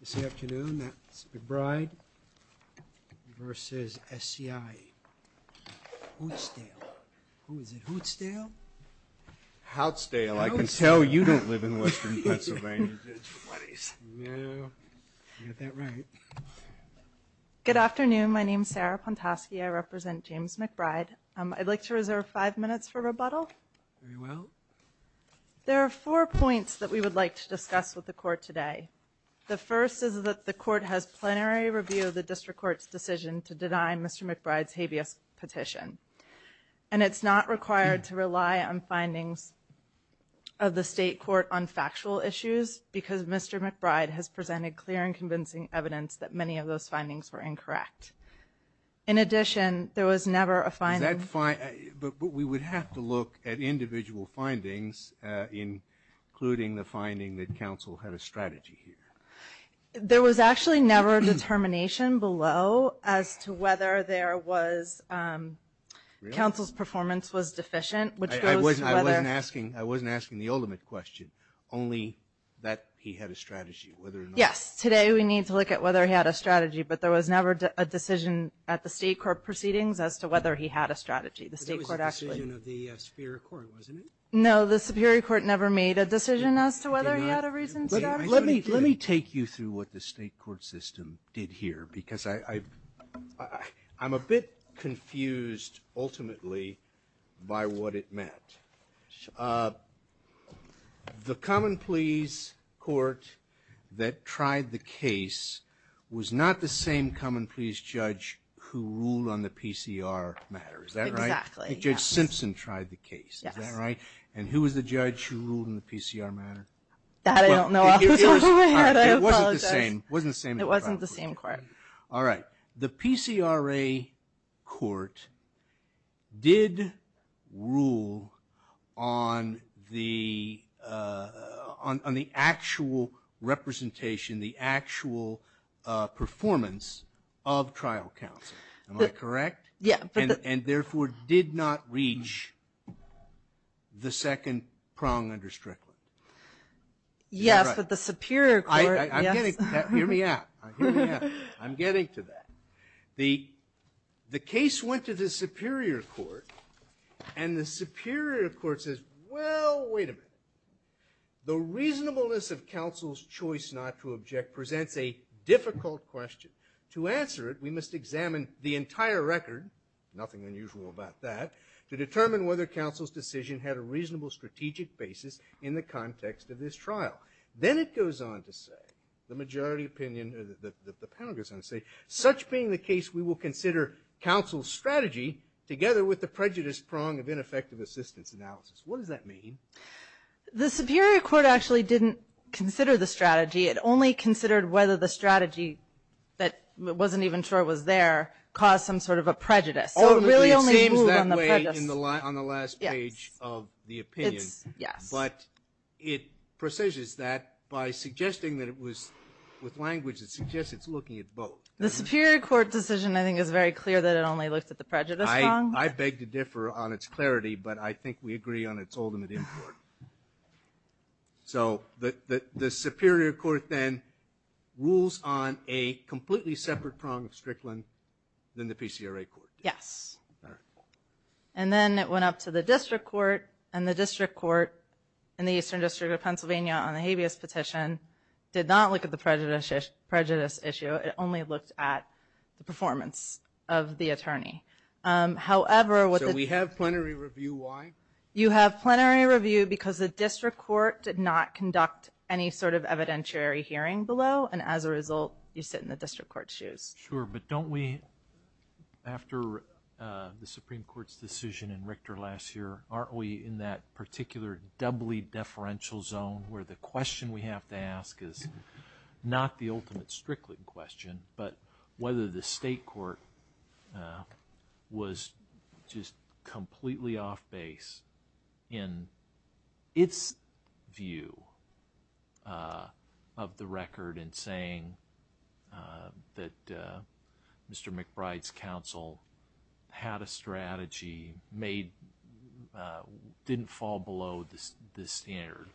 This afternoon, that's McBride versus SCIHoutzdale. Who is it? Houtzdale? Houtzdale. I can tell you don't live in western Pennsylvania. Yeah, you got that right. Good afternoon. My name is Sarah Pontosky. I represent James McBride. I'd like to reserve five minutes for rebuttal. Very well. There are four points that we would like to discuss with the court today. The first is that the court has plenary review of the district court's decision to deny Mr. McBride's habeas petition. And it's not required to rely on findings of the state court on factual issues because Mr. McBride has presented clear and convincing evidence that many of those findings were incorrect. In addition, there was never a finding... But we would have to look at individual findings, including the finding that counsel had a strategy here. There was actually never a determination below as to whether there was... Counsel's performance was deficient, which goes to whether... I wasn't asking the ultimate question, only that he had a strategy, whether or not... Yes, today we need to look at whether he had a strategy, but there was never a decision at the state court proceedings as to whether he had a strategy. The state court actually... But there was a decision of the Superior Court, wasn't it? No, the Superior Court never made a decision as to whether he had a reason to... Let me take you through what the state court system did here because I'm a bit confused, ultimately, by what it meant. The common pleas court that tried the case was not the same common pleas judge who ruled on the PCR matter, is that right? Exactly. Judge Simpson tried the case, is that right? Yes. And who was the judge who ruled on the PCR matter? That I don't know off the top of my head, I apologize. It wasn't the same. It wasn't the same court. All right. The PCRA court did rule on the actual representation, the actual performance of trial counsel, am I correct? Yes. And therefore did not reach the second prong under Strickland. Yes, but the Superior Court... Hear me out. Hear me out. I'm getting to that. The case went to the Superior Court and the Superior Court says, well, wait a minute. The reasonableness of counsel's choice not to object presents a difficult question. To answer it, we must examine the entire record, nothing unusual about that, to determine whether counsel's decision had a reasonable strategic basis in the context of this trial. Then it goes on to say, the majority opinion, or the panel goes on to say, such being the case we will consider counsel's strategy together with the prejudice prong of ineffective assistance analysis. What does that mean? The Superior Court actually didn't consider the strategy. It only considered whether the strategy that wasn't even sure was there caused some sort of a prejudice. So it really only ruled on the prejudice. It seems that way on the last page of the opinion. Yes. But it presages that by suggesting that it was with language that suggests it's looking at both. The Superior Court decision I think is very clear that it only looked at the prejudice prong. I beg to differ on its clarity, but I think we agree on its ultimate import. So the Superior Court then rules on a completely separate prong of Strickland than the PCRA Court did. Yes. And then it went up to the District Court, and the District Court in the Eastern District of Pennsylvania on the habeas petition did not look at the prejudice issue. It only looked at the performance of the attorney. So we have plenary review. Why? You have plenary review because the District Court did not conduct any sort of evidentiary hearing below, and as a result you sit in the District Court's shoes. Sure. But don't we, after the Supreme Court's decision in Richter last year, aren't we in that particular doubly deferential zone where the question we have to ask is not the ultimate Strickland question, but whether the State Court was just completely off base in its view of the record in saying that Mr. McBride's counsel had a strategy, didn't fall below the standard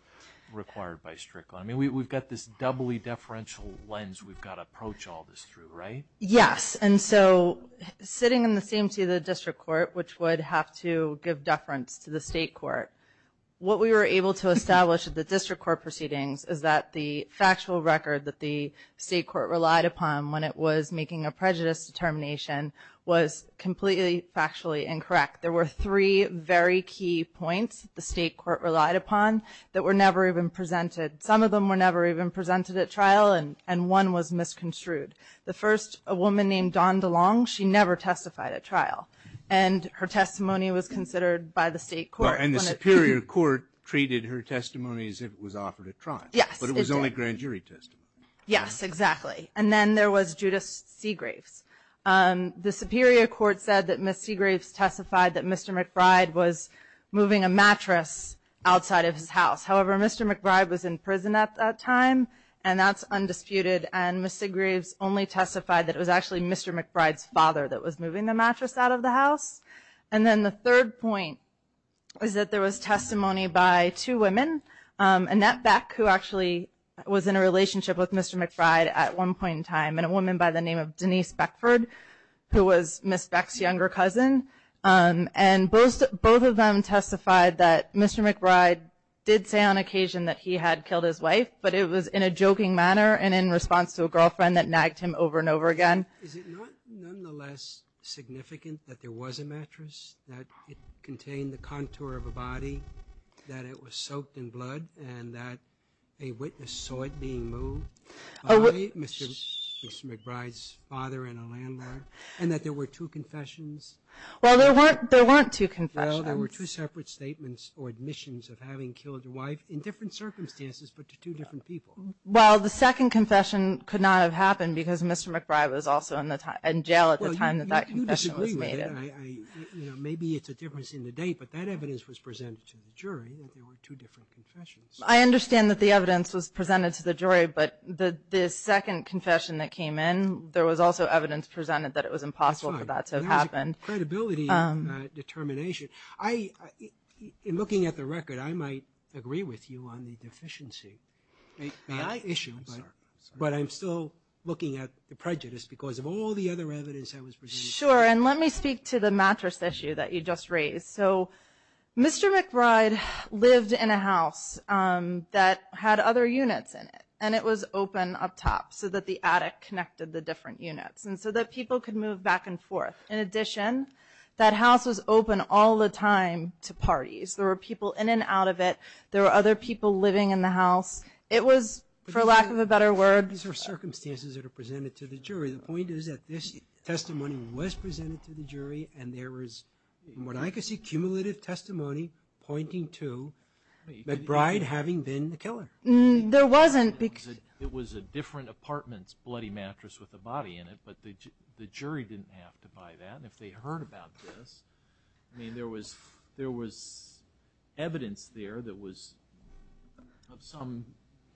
required by Strickland? I mean, we've got this doubly deferential lens we've got to approach all this through, right? Yes. And so sitting in the same seat of the District Court, which would have to give deference to the State Court, what we were able to establish at the District Court proceedings is that the factual record that the State Court relied upon when it was making a prejudice determination was completely factually incorrect. There were three very key points the State Court relied upon that were never even presented. Some of them were never even presented at trial, and one was misconstrued. The first, a woman named Dawn DeLong, she never testified at trial, and her testimony was considered by the State Court. And the Superior Court treated her testimony as if it was offered at trial. Yes, it did. But it was only grand jury testimony. Yes, exactly. And then there was Judith Seagraves. The Superior Court said that Ms. Seagraves testified that Mr. McBride was moving a mattress outside of his house. However, Mr. McBride was in prison at that time, and that's undisputed, and Ms. Seagraves only testified that it was actually Mr. McBride's father that was moving the mattress out of the house. And then the third point is that there was testimony by two women, Annette Beck, who actually was in a relationship with Mr. McBride at one point in time, and a woman by the name of Denise Beckford, who was Ms. Beck's younger cousin. And both of them testified that Mr. McBride did say on occasion that he had killed his wife, but it was in a joking manner and in response to a girlfriend that nagged him over and over again. Is it not nonetheless significant that there was a mattress, that it contained the contour of a body, that it was soaked in blood, and that a witness saw it being moved by Mr. McBride's father and a landlord, and that there were two confessions? Well, there weren't two confessions. Well, there were two separate statements or admissions of having killed your wife in different circumstances, but to two different people. Well, the second confession could not have happened because Mr. McBride was also in jail at the time that that confession was made. Maybe it's a difference in the date, but that evidence was presented to the jury that there were two different confessions. I understand that the evidence was presented to the jury, but the second confession that came in, there was also evidence presented that it was impossible for that to have happened. That's fine. There's a credibility determination. In looking at the record, I might agree with you on the deficiency. May I issue, but I'm still looking at the prejudice because of all the other evidence that was presented. Sure, and let me speak to the mattress issue that you just raised. So Mr. McBride lived in a house that had other units in it, and it was open up top so that the attic connected the different units and so that people could move back and forth. In addition, that house was open all the time to parties. There were people in and out of it. There were other people living in the house. It was, for lack of a better word – These are circumstances that are presented to the jury. The point is that this testimony was presented to the jury, and there was, from what I can see, cumulative testimony pointing to McBride having been the killer. There wasn't. It was a different apartment's bloody mattress with a body in it, but the jury didn't have to buy that. If they heard about this, there was evidence there that was of some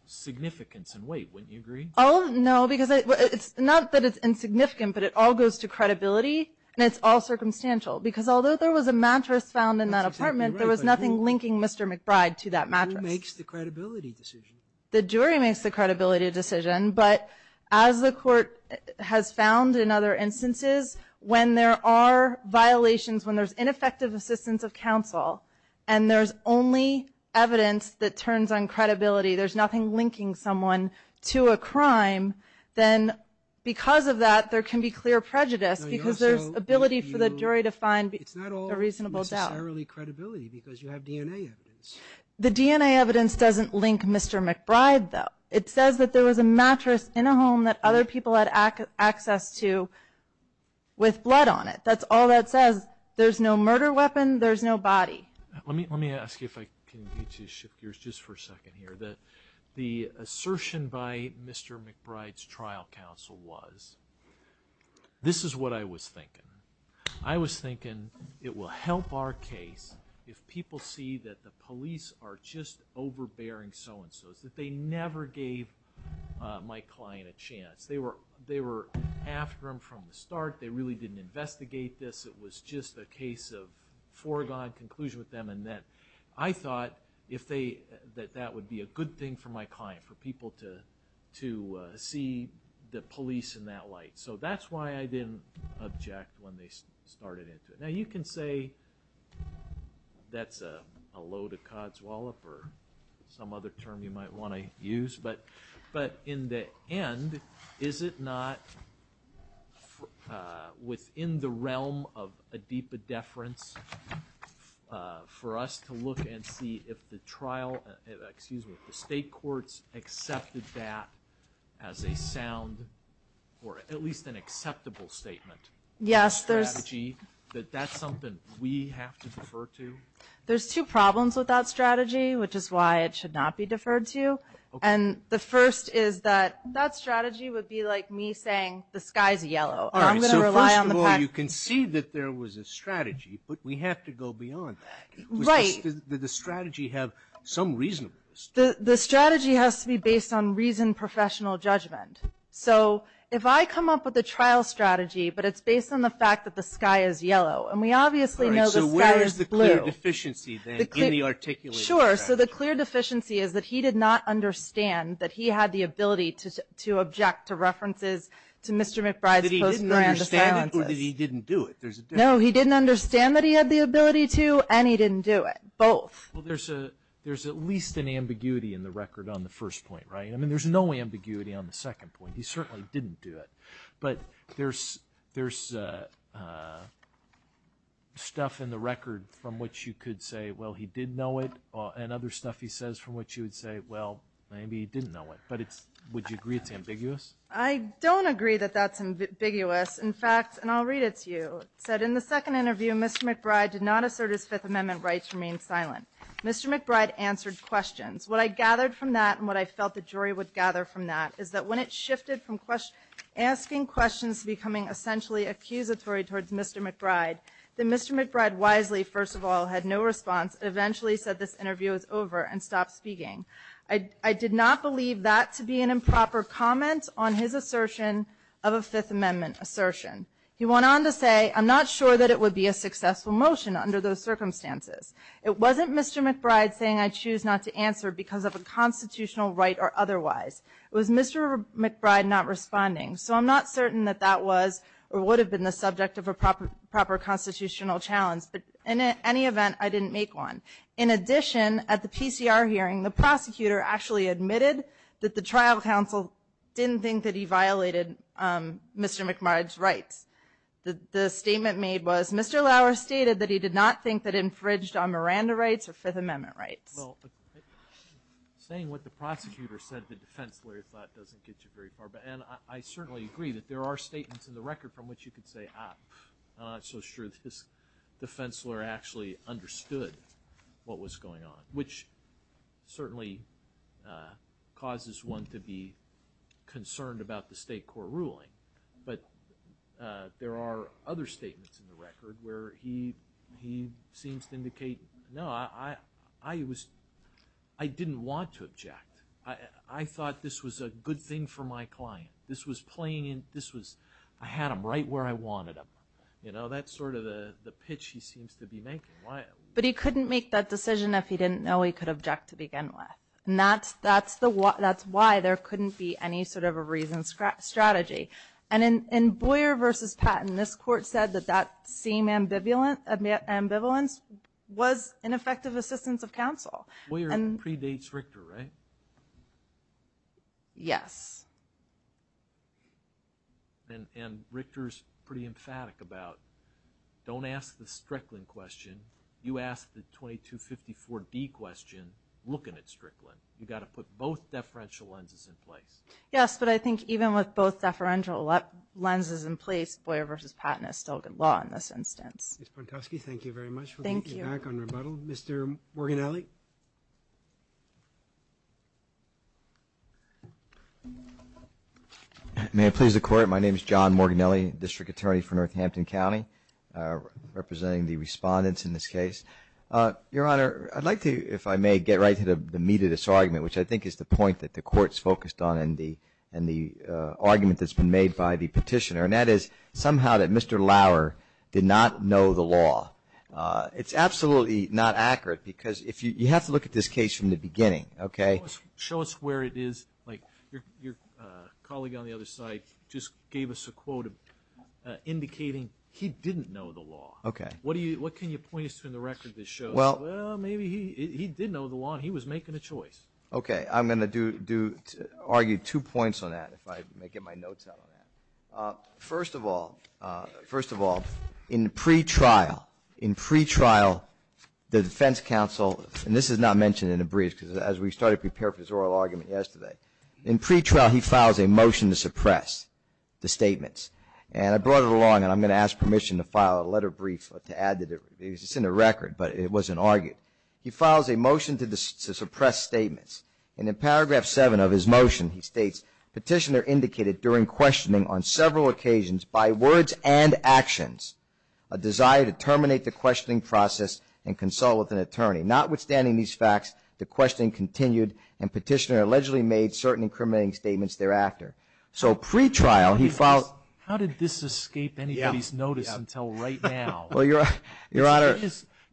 significance and weight. Wouldn't you agree? Oh, no, because it's not that it's insignificant, but it all goes to credibility, and it's all circumstantial. Because although there was a mattress found in that apartment, there was nothing linking Mr. McBride to that mattress. Who makes the credibility decision? The jury makes the credibility decision, but as the court has found in other instances, when there are violations, when there's ineffective assistance of counsel, and there's only evidence that turns on credibility, there's nothing linking someone to a crime, then because of that, there can be clear prejudice because there's ability for the jury to find a reasonable doubt. It's not all necessarily credibility because you have DNA evidence. The DNA evidence doesn't link Mr. McBride, though. It says that there was a mattress in a home that other people had access to with blood on it. That's all that says. There's no murder weapon. There's no body. Let me ask you if I can get you to shift gears just for a second here. The assertion by Mr. McBride's trial counsel was, this is what I was thinking. I was thinking it will help our case if people see that the police are just overbearing so-and-so's, that they never gave my client a chance. They were after him from the start. They really didn't investigate this. It was just a case of foregone conclusion with them. I thought that that would be a good thing for my client, for people to see the police in that light. That's why I didn't object when they started it. Now, you can say that's a load of codswallop or some other term you might want to use, but in the end, is it not within the realm of a deep deference for us to look and see if the trial, excuse me, if the state courts accepted that as a sound or at least an acceptable statement? Yes, there's... Strategy, that that's something we have to defer to? There's two problems with that strategy, which is why it should not be deferred to. The first is that that strategy would be like me saying the sky's yellow. I'm going to rely on the fact... First of all, you can see that there was a strategy, but we have to go beyond that. Right. Does the strategy have some reasonableness? The strategy has to be based on reasoned professional judgment. If I come up with a trial strategy, but it's based on the fact that the sky is yellow, and we obviously know the sky is blue. Where is the clear deficiency, then, in the articulated strategy? Sure, so the clear deficiency is that he did not understand that he had the ability to object to references to Mr. McBride's post-Miranda silences. That he didn't understand it, or that he didn't do it? No, he didn't understand that he had the ability to, and he didn't do it, both. Well, there's at least an ambiguity in the record on the first point, right? I mean, there's no ambiguity on the second point. He certainly didn't do it, but there's stuff in the record from which you could say, well, he did know it, and other stuff he says from which you would say, well, maybe he didn't know it. But would you agree it's ambiguous? I don't agree that that's ambiguous. In fact, and I'll read it to you. It said, in the second interview, Mr. McBride did not assert his Fifth Amendment rights from being silent. Mr. McBride answered questions. What I gathered from that, and what I felt the jury would gather from that, is that when it shifted from asking questions to becoming essentially accusatory towards Mr. McBride, that Mr. McBride wisely, first of all, had no response, eventually said this interview is over and stopped speaking. I did not believe that to be an improper comment on his assertion of a Fifth Amendment assertion. He went on to say, I'm not sure that it would be a successful motion under those circumstances. It wasn't Mr. McBride saying I choose not to answer because of a constitutional right or otherwise. It was Mr. McBride not responding. So I'm not certain that that was or would have been the subject of a proper constitutional challenge. But in any event, I didn't make one. In addition, at the PCR hearing, the prosecutor actually admitted that the trial counsel didn't think that he violated Mr. McBride's rights. The statement made was, Mr. Lauer stated that he did not think that infringed on Miranda rights or Fifth Amendment rights. Well, saying what the prosecutor said, the defense lawyer thought, doesn't get you very far. And I certainly agree that there are statements in the record from which you could say, ah, I'm not so sure this defense lawyer actually understood what was going on, which certainly causes one to be concerned about the state court ruling. But there are other statements in the record where he seems to indicate, no, I didn't want to object. I thought this was a good thing for my client. This was playing in, this was, I had him right where I wanted him. You know, that's sort of the pitch he seems to be making. But he couldn't make that decision if he didn't know he could object to begin with. And that's why there couldn't be any sort of a reasoned strategy. And in Boyer v. Patton, this court said that that same ambivalence was ineffective assistance of counsel. Boyer predates Richter, right? Yes. And Richter's pretty emphatic about, don't ask the Strickland question. You ask the 2254D question looking at Strickland. You've got to put both deferential lenses in place. Yes, but I think even with both deferential lenses in place, Boyer v. Patton is still good law in this instance. Ms. Pontosky, thank you very much. Thank you. We'll get you back on rebuttal. Mr. Morginelli. May it please the Court, my name is John Morginelli, District Attorney for Northampton County, representing the respondents in this case. Your Honor, I'd like to, if I may, get right to the meat of this argument, which I think is the point that the Court's focused on in the argument that's been made by the petitioner, and that is somehow that Mr. Lauer did not know the law. It's absolutely not accurate because you have to look at this case from the beginning, okay? Show us where it is. Like your colleague on the other side just gave us a quote indicating he didn't know the law. Okay. What can you point us to in the record that shows, well, maybe he did know the law and he was making a choice? Okay. I'm going to argue two points on that if I may get my notes out on that. First of all, in pretrial, the defense counsel, and this is not mentioned in a brief because as we started to prepare for this oral argument yesterday, in pretrial he files a motion to suppress the statements. And I brought it along, and I'm going to ask permission to file a letter of brief to add to it. It's in the record, but it wasn't argued. He files a motion to suppress statements. And in paragraph 7 of his motion he states, petitioner indicated during questioning on several occasions by words and actions, a desire to terminate the questioning process and consult with an attorney. Notwithstanding these facts, the questioning continued and petitioner allegedly made certain incriminating statements thereafter. So pretrial he filed. How did this escape anybody's notice until right now? Well, Your Honor.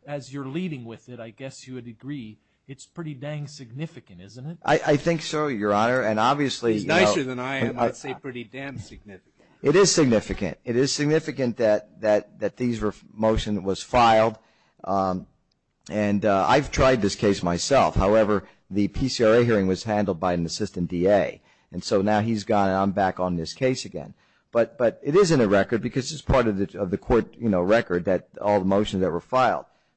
As you're leading with it, I guess you would agree it's pretty dang significant, isn't it? I think so, Your Honor, and obviously. It's nicer than I am. I'd say pretty damn significant. It is significant. It is significant that these motions were filed. And I've tried this case myself. However, the PCRA hearing was handled by an assistant DA. And so now he's gone and I'm back on this case again. But it is in the record because it's part of the court, you know,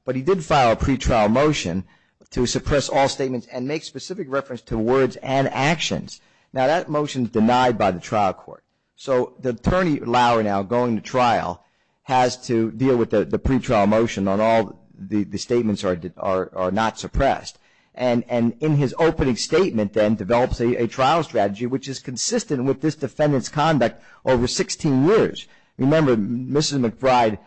But he did file a pretrial motion to suppress all statements and make specific reference to words and actions. Now that motion is denied by the trial court. So the attorney, Lauer, now going to trial, has to deal with the pretrial motion on all the statements are not suppressed. And in his opening statement then develops a trial strategy, which is consistent with this defendant's conduct over 16 years. Remember, Mrs. McBride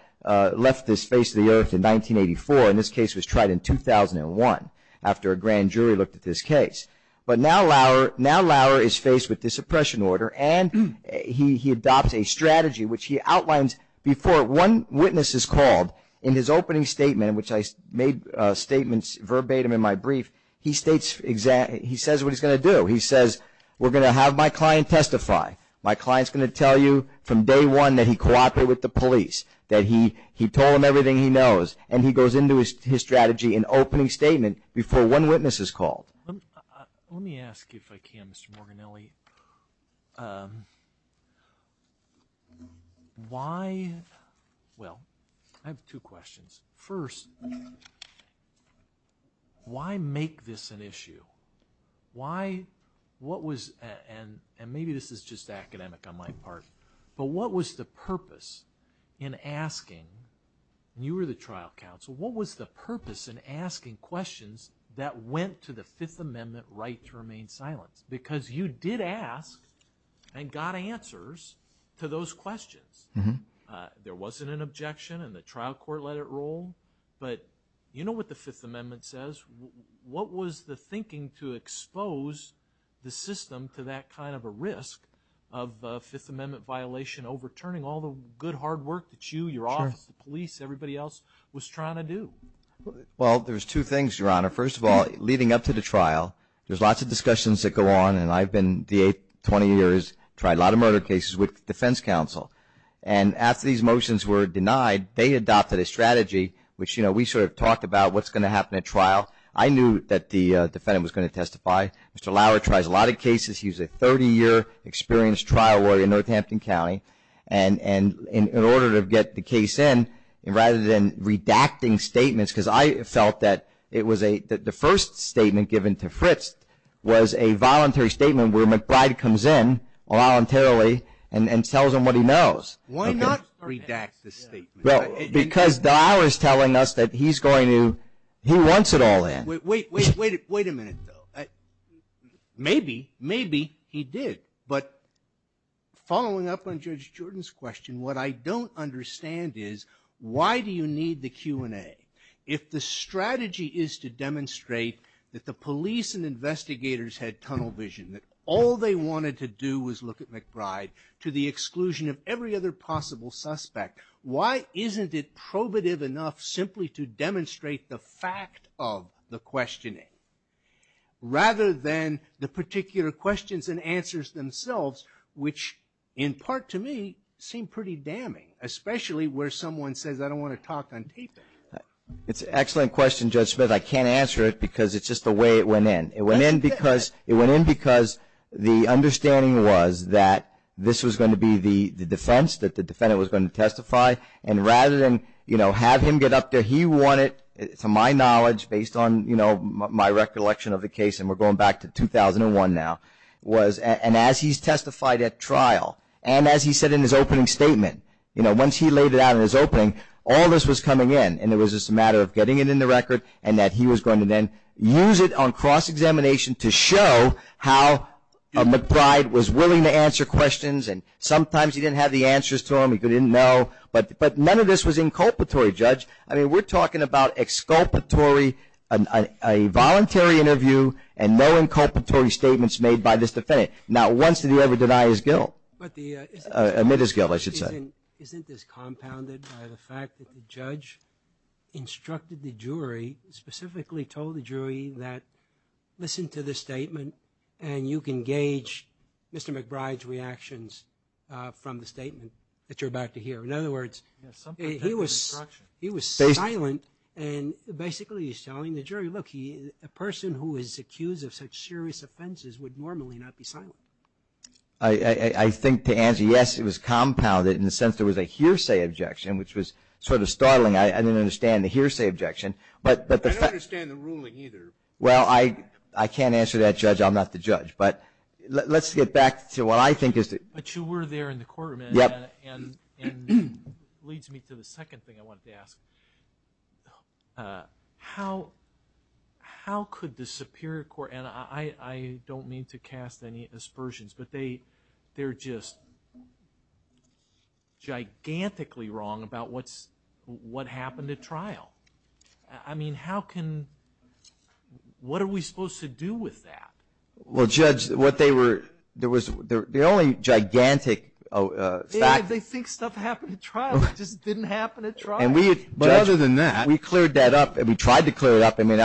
left this face of the earth in 1984, and this case was tried in 2001 after a grand jury looked at this case. But now Lauer is faced with this suppression order, and he adopts a strategy which he outlines before one witness is called. In his opening statement, which I made statements verbatim in my brief, he says what he's going to do. He says, we're going to have my client testify. My client's going to tell you from day one that he cooperated with the police, that he told him everything he knows, and he goes into his strategy in opening statement before one witness is called. Let me ask, if I can, Mr. Morganelli, why, well, I have two questions. First, why make this an issue? Why, what was, and maybe this is just academic on my part, but what was the purpose in asking, and you were the trial counsel, what was the purpose in asking questions that went to the Fifth Amendment right to remain silent? Because you did ask and got answers to those questions. There wasn't an objection, and the trial court let it roll, but you know what the Fifth Amendment says. What was the thinking to expose the system to that kind of a risk of a Fifth Amendment violation overturning all the good hard work that you, your office, the police, everybody else was trying to do? Well, there's two things, Your Honor. First of all, leading up to the trial, there's lots of discussions that go on, and I've been, the 20 years, tried a lot of murder cases with the defense counsel. And after these motions were denied, they adopted a strategy, which, you know, we sort of talked about what's going to happen at trial. I knew that the defendant was going to testify. Mr. Lauer tries a lot of cases. He's a 30-year experienced trial lawyer in Northampton County. And in order to get the case in, rather than redacting statements, because I felt that it was a, the first statement given to Fritz was a voluntary statement where McBride comes in voluntarily and tells him what he knows. Why not redact the statement? Because Lauer is telling us that he's going to, he wants it all in. Wait, wait, wait, wait a minute, though. Maybe, maybe he did. But following up on Judge Jordan's question, what I don't understand is why do you need the Q&A? If the strategy is to demonstrate that the police and investigators had tunnel vision, that all they wanted to do was look at McBride, to the exclusion of every other possible suspect, why isn't it probative enough simply to demonstrate the fact of the questioning, rather than the particular questions and answers themselves, which in part to me seem pretty damning, especially where someone says, I don't want to talk on taping. It's an excellent question, Judge Smith. I can't answer it because it's just the way it went in. It went in because the understanding was that this was going to be the defense, that the defendant was going to testify, and rather than have him get up there, he wanted, to my knowledge, based on my recollection of the case, and we're going back to 2001 now, and as he's testified at trial, and as he said in his opening statement, once he laid it out in his opening, all this was coming in, and it was just a matter of getting it in the record, and that he was going to then use it on cross-examination to show how McBride was willing to answer questions, and sometimes he didn't have the answers to them, he didn't know, but none of this was inculpatory, Judge. I mean, we're talking about exculpatory, a voluntary interview, and no inculpatory statements made by this defendant. Not once did he ever deny his guilt, admit his guilt, I should say. Isn't this compounded by the fact that the judge instructed the jury, specifically told the jury that listen to this statement, and you can gauge Mr. McBride's reactions from the statement that you're about to hear. In other words, he was silent, and basically he's telling the jury, look, a person who is accused of such serious offenses would normally not be silent. I think to answer, yes, it was compounded, in the sense there was a hearsay objection, which was sort of startling. I didn't understand the hearsay objection. I don't understand the ruling either. Well, I can't answer that, Judge. I'm not the judge, but let's get back to what I think is the... But you were there in the courtroom, and it leads me to the second thing I wanted to ask. How could the Superior Court, and I don't mean to cast any aspersions, but they're just gigantically wrong about what happened at trial. I mean, how can...what are we supposed to do with that? Well, Judge, what they were...the only gigantic fact... They think stuff happened at trial. It just didn't happen at trial. But other than that... We cleared that up. We tried to clear it up. I mean,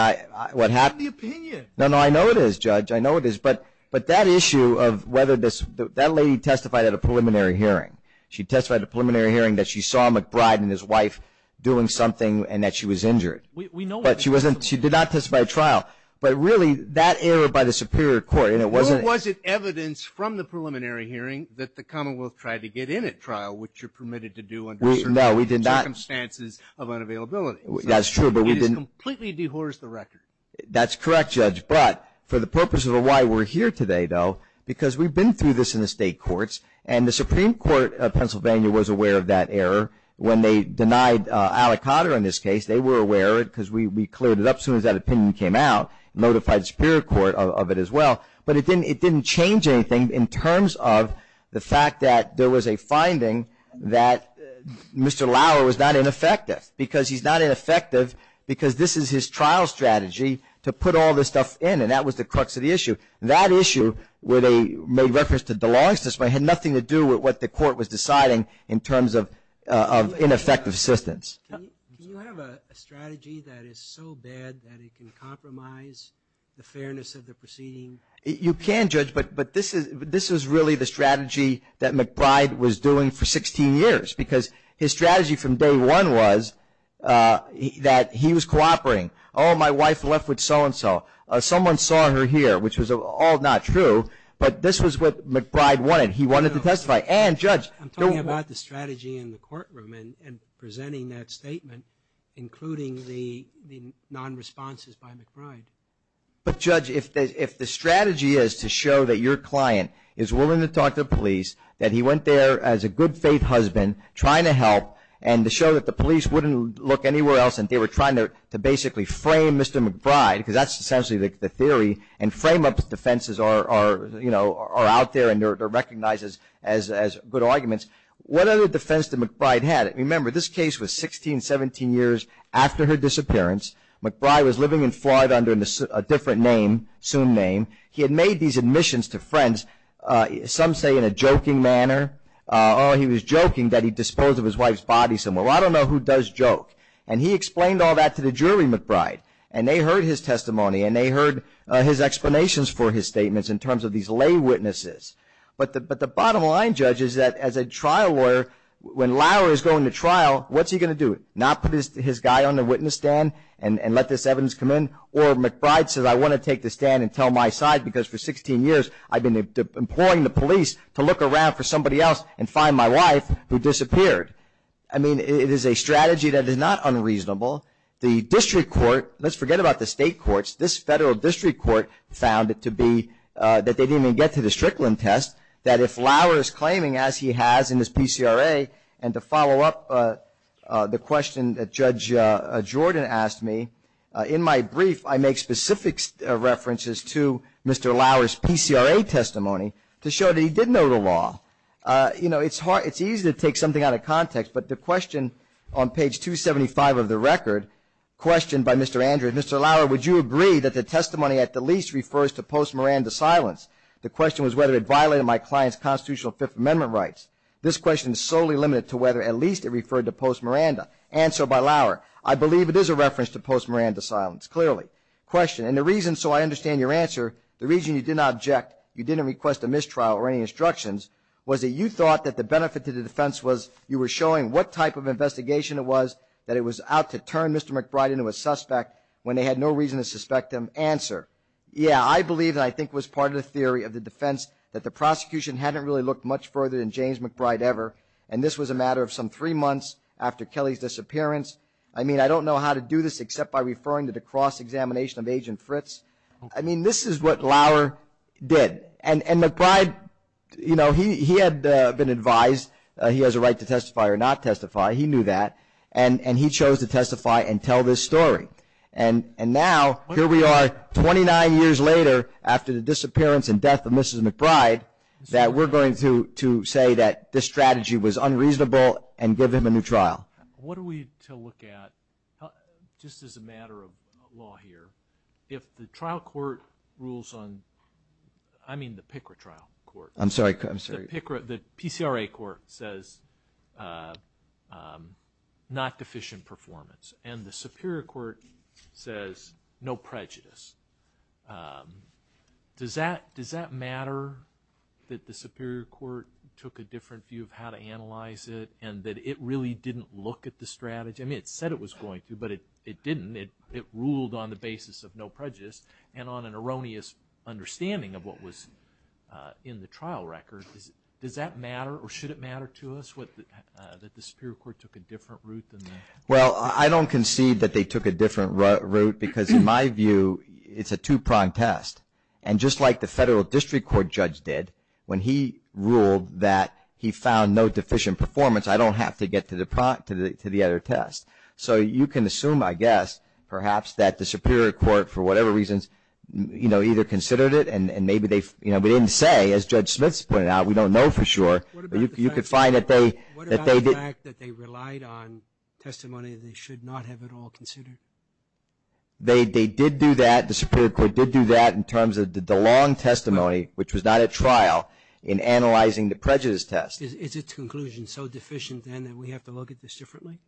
what happened... That's not the opinion. No, no, I know it is, Judge. I know it is. But that issue of whether this...that lady testified at a preliminary hearing. She testified at a preliminary hearing that she saw McBride and his wife doing something and that she was injured. But she wasn't...she did not testify at trial. But really, that error by the Superior Court, and it wasn't... Or was it evidence from the preliminary hearing that the Commonwealth tried to get in at trial, which you're permitted to do under certain circumstances of unavailability. That's true, but we didn't... It has completely dehorsed the record. That's correct, Judge. But for the purpose of why we're here today, though, because we've been through this in the state courts, and the Supreme Court of Pennsylvania was aware of that error when they denied Alicata in this case. They were aware of it because we cleared it up as soon as that opinion came out and notified the Superior Court of it as well. But it didn't change anything in terms of the fact that there was a finding that Mr. Lauer was not ineffective because he's not ineffective because this is his trial strategy to put all this stuff in, and that was the crux of the issue. That issue where they made reference to DeLong's testimony had nothing to do with what the court was deciding in terms of ineffective assistance. Can you have a strategy that is so bad that it can compromise the fairness of the proceeding? You can, Judge, but this is really the strategy that McBride was doing for 16 years because his strategy from day one was that he was cooperating. Oh, my wife left with so-and-so. Someone saw her here, which was all not true, but this was what McBride wanted. He wanted to testify. I'm talking about the strategy in the courtroom and presenting that statement, including the non-responses by McBride. But, Judge, if the strategy is to show that your client is willing to talk to the police, that he went there as a good-faith husband trying to help and to show that the police wouldn't look anywhere else and they were trying to basically frame Mr. McBride, because that's essentially the theory, and frame-up defenses are out there and they're recognized as good arguments. What other defense did McBride have? Remember, this case was 16, 17 years after her disappearance. McBride was living in Florida under a different name, soon name. He had made these admissions to friends, some say in a joking manner. Oh, he was joking that he disposed of his wife's body somewhere. Well, I don't know who does joke. And he explained all that to the jury, McBride, and they heard his testimony and they heard his explanations for his statements in terms of these lay witnesses. But the bottom line, Judge, is that as a trial lawyer, when Lauer is going to trial, what's he going to do? Not put his guy on the witness stand and let this evidence come in? Or McBride says, I want to take the stand and tell my side, because for 16 years I've been imploring the police to look around for somebody else and find my wife who disappeared. I mean, it is a strategy that is not unreasonable. The district court, let's forget about the state courts, this federal district court found it to be that they didn't even get to the Strickland test, that if Lauer is claiming, as he has in his PCRA, and to follow up the question that Judge Jordan asked me, in my brief I make specific references to Mr. Lauer's PCRA testimony to show that he did know the law. You know, it's easy to take something out of context, but the question on page 275 of the record, questioned by Mr. Andrews, Mr. Lauer, would you agree that the testimony at the least refers to post-Miranda silence? The question was whether it violated my client's constitutional Fifth Amendment rights. This question is solely limited to whether at least it referred to post-Miranda. Answered by Lauer, I believe it is a reference to post-Miranda silence, clearly. Question, and the reason, so I understand your answer, the reason you did not object, you didn't request a mistrial or any instructions, was that you thought that the benefit to the defense was you were showing what type of investigation it was, that it was out to turn Mr. McBride into a suspect, when they had no reason to suspect him. Answer, yeah, I believe, and I think was part of the theory of the defense, that the prosecution hadn't really looked much further than James McBride ever, and this was a matter of some three months after Kelly's disappearance. I mean, I don't know how to do this except by referring to the cross-examination of Agent Fritz. I mean, this is what Lauer did. And McBride, you know, he had been advised he has a right to testify or not testify. He knew that, and he chose to testify and tell this story. And now here we are 29 years later after the disappearance and death of Mrs. McBride that we're going to say that this strategy was unreasonable and give him a new trial. What are we to look at, just as a matter of law here, if the trial court rules on, I mean the PCRA trial court. I'm sorry. The PCRA court says not deficient performance, and the Superior Court says no prejudice. Does that matter that the Superior Court took a different view of how to analyze it and that it really didn't look at the strategy? I mean, it said it was going to, but it didn't. It ruled on the basis of no prejudice and on an erroneous understanding of what was in the trial record. Does that matter or should it matter to us that the Superior Court took a different route? Well, I don't concede that they took a different route because, in my view, it's a two-pronged test. And just like the Federal District Court judge did when he ruled that he found no deficient performance, I don't have to get to the other test. So you can assume, I guess, perhaps that the Superior Court, for whatever reasons, either considered it and maybe they didn't say. As Judge Smith pointed out, we don't know for sure. What about the fact that they relied on testimony they should not have at all considered? They did do that. The Superior Court did do that in terms of the long testimony, which was not at trial, in analyzing the prejudice test. Is its conclusion so deficient then that we have to look at this differently?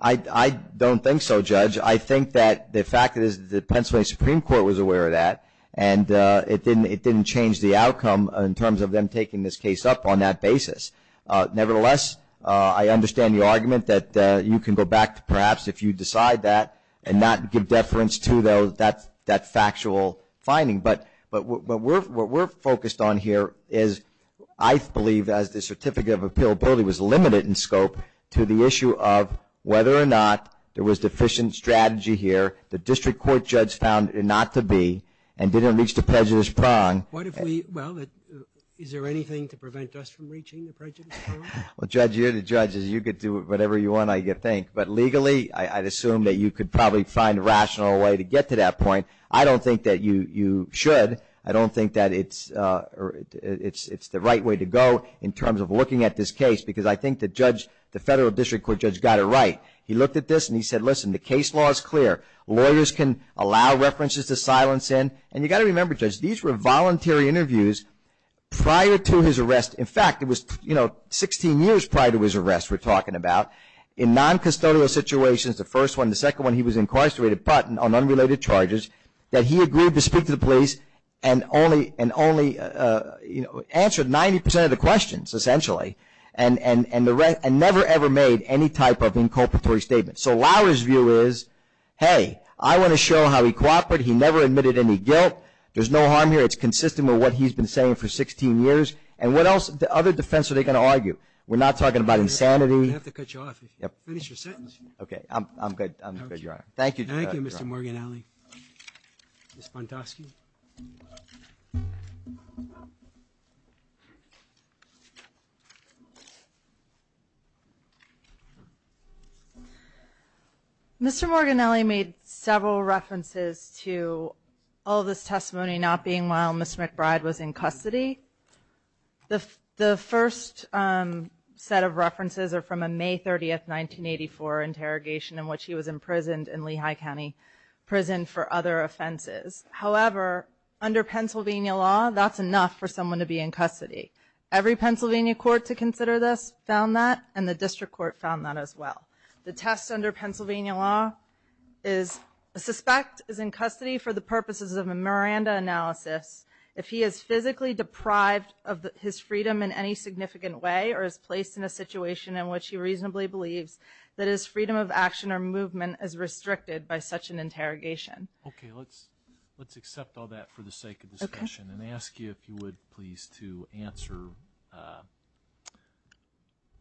I don't think so, Judge. I think that the fact is that the Pennsylvania Supreme Court was aware of that and it didn't change the outcome in terms of them taking this case up on that basis. Nevertheless, I understand the argument that you can go back to perhaps if you decide that and not give deference to, though, that factual finding. But what we're focused on here is, I believe, as the certificate of appealability was limited in scope, to the issue of whether or not there was deficient strategy here. The district court judge found it not to be and didn't reach the prejudice prong. Well, is there anything to prevent us from reaching the prejudice prong? Well, Judge, you're the judge. You can do whatever you want, I think. But legally, I'd assume that you could probably find a rational way to get to that point. I don't think that you should. I don't think that it's the right way to go in terms of looking at this case because I think the federal district court judge got it right. He looked at this and he said, listen, the case law is clear. Lawyers can allow references to silence in. And you've got to remember, Judge, these were voluntary interviews prior to his arrest. In fact, it was 16 years prior to his arrest we're talking about. In non-custodial situations, the first one and the second one, he was incarcerated but on unrelated charges that he agreed to speak to the police and only answered 90% of the questions essentially and never ever made any type of inculpatory statement. So Lawyer's view is, hey, I want to show how he cooperated. He never admitted any guilt. There's no harm here. It's consistent with what he's been saying for 16 years. And what else other defense are they going to argue? We're not talking about insanity. We have to cut you off if you finish your sentence. Okay. I'm good. I'm good, Your Honor. Thank you. Thank you, Mr. Morginelli. Ms. Montosky. Mr. Morginelli made several references to all this testimony not being while Ms. McBride was in custody. The first set of references are from a May 30th, 1984 interrogation in which he was imprisoned in Lehigh County Prison for other offenses. However, under Pennsylvania law, that's enough for someone to be in custody. Every Pennsylvania court to consider this found that and the district court found that as well. The test under Pennsylvania law is a suspect is in custody for the purposes of a Miranda analysis. If he is physically deprived of his freedom in any significant way or is placed in a situation in which he reasonably believes that his freedom of action or movement is restricted by such an interrogation. Okay. Let's accept all that for the sake of discussion and ask you if you would please to answer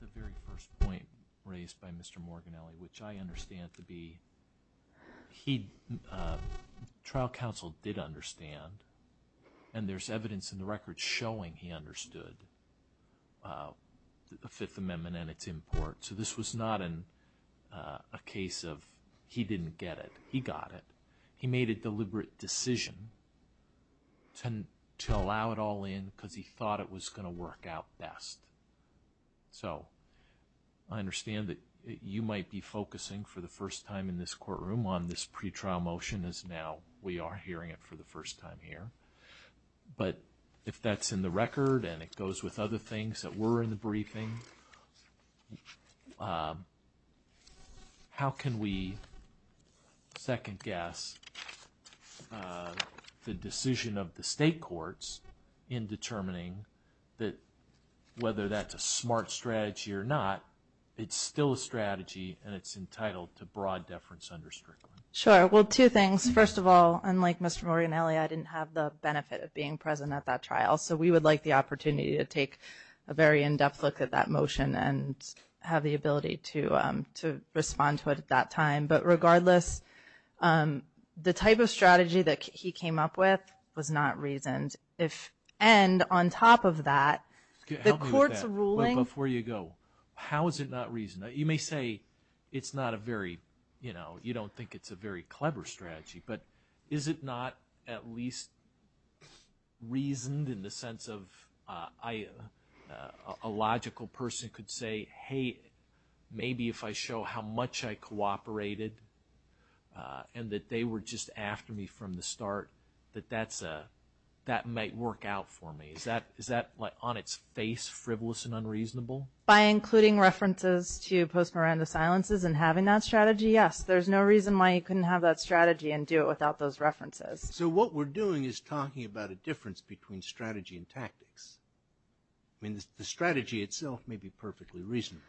the very first point raised by Mr. Morginelli, which I understand to be trial counsel did understand and there's evidence in the record showing he understood the Fifth Amendment and its import. So, this was not a case of he didn't get it. He got it. He made a deliberate decision to allow it all in because he thought it was going to work out best. So, I understand that you might be focusing for the first time in this courtroom on this pretrial motion as now we are hearing it for the first time here. But if that's in the record and it goes with other things that were in the briefing, how can we second guess the decision of the state courts in determining that whether that's a smart strategy or not, it's still a strategy and it's entitled to broad deference under Strickland? Sure. Well, two things. First of all, unlike Mr. Morginelli, I didn't have the benefit of being present at that trial. So, we would like the opportunity to take a very in-depth look at that motion and have the ability to respond to it at that time. But regardless, the type of strategy that he came up with was not reasoned. And on top of that, the court's ruling… Help me with that before you go. How is it not reasoned? You may say it's not a very, you know, you don't think it's a very clever strategy, but is it not at least reasoned in the sense of a logical person could say, hey, maybe if I show how much I cooperated and that they were just after me from the start, that that might work out for me. Is that on its face frivolous and unreasonable? By including references to post-Miranda silences and having that strategy, yes. There's no reason why you couldn't have that strategy and do it without those references. So, what we're doing is talking about a difference between strategy and tactics. I mean, the strategy itself may be perfectly reasonable.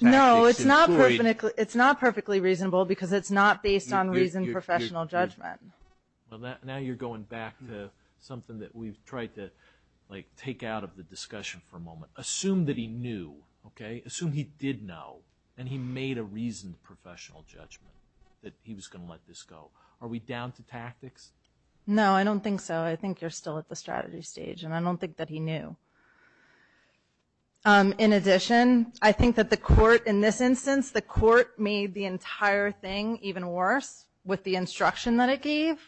No, it's not perfectly reasonable because it's not based on reasoned professional judgment. Well, now you're going back to something that we've tried to, like, take out of the discussion for a moment. Assume that he knew, okay? Assume he did know and he made a reasoned professional judgment that he was going to let this go. Are we down to tactics? No, I don't think so. I think you're still at the strategy stage, and I don't think that he knew. In addition, I think that the court in this instance, the court made the entire thing even worse with the instruction that it gave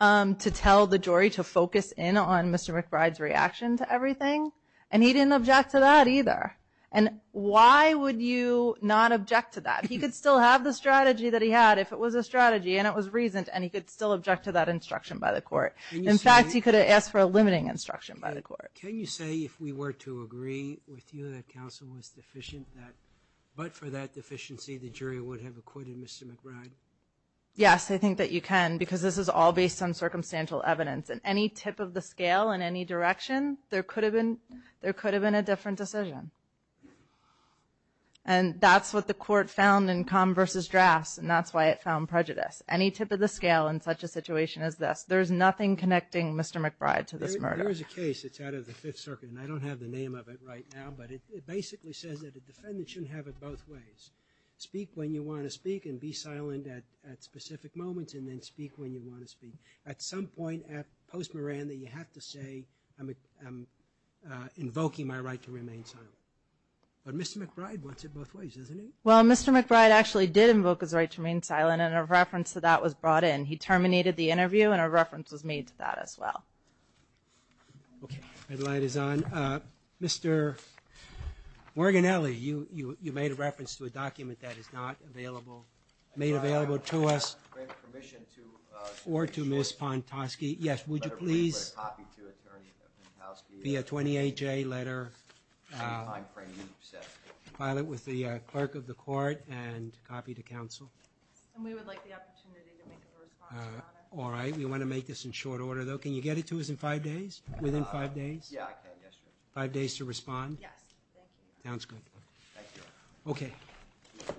to tell the jury to focus in on Mr. McBride's reaction to everything, and he didn't object to that either. And why would you not object to that? He could still have the strategy that he had if it was a strategy and it was reasoned, and he could still object to that instruction by the court. In fact, he could have asked for a limiting instruction by the court. Can you say, if we were to agree with you that counsel was deficient, that but for that deficiency the jury would have acquitted Mr. McBride? Yes, I think that you can because this is all based on circumstantial evidence. At any tip of the scale in any direction, there could have been a different decision. And that's what the court found in Kahn versus Drafts, and that's why it found prejudice. Any tip of the scale in such a situation as this, there's nothing connecting Mr. McBride to this murder. There is a case that's out of the Fifth Circuit, and I don't have the name of it right now, but it basically says that a defendant shouldn't have it both ways. Speak when you want to speak and be silent at specific moments and then speak when you want to speak. At some point at post-morandum, you have to say, I'm invoking my right to remain silent. But Mr. McBride wants it both ways, doesn't he? Well, Mr. McBride actually did invoke his right to remain silent, and a reference to that was brought in. He terminated the interview, and a reference was made to that as well. Okay. Red light is on. Mr. Morganelli, you made a reference to a document that is not available, made available to us or to Ms. Pontosky. Yes, would you please be a 28-J letter, file it with the clerk of the court and copy to counsel? And we would like the opportunity to make a response on it. All right. We want to make this in short order, though. Can you get it to us in five days, within five days? Yeah, I can, yes, sir. Five days to respond? Yes. Thank you. Sounds good. Thank you. Okay.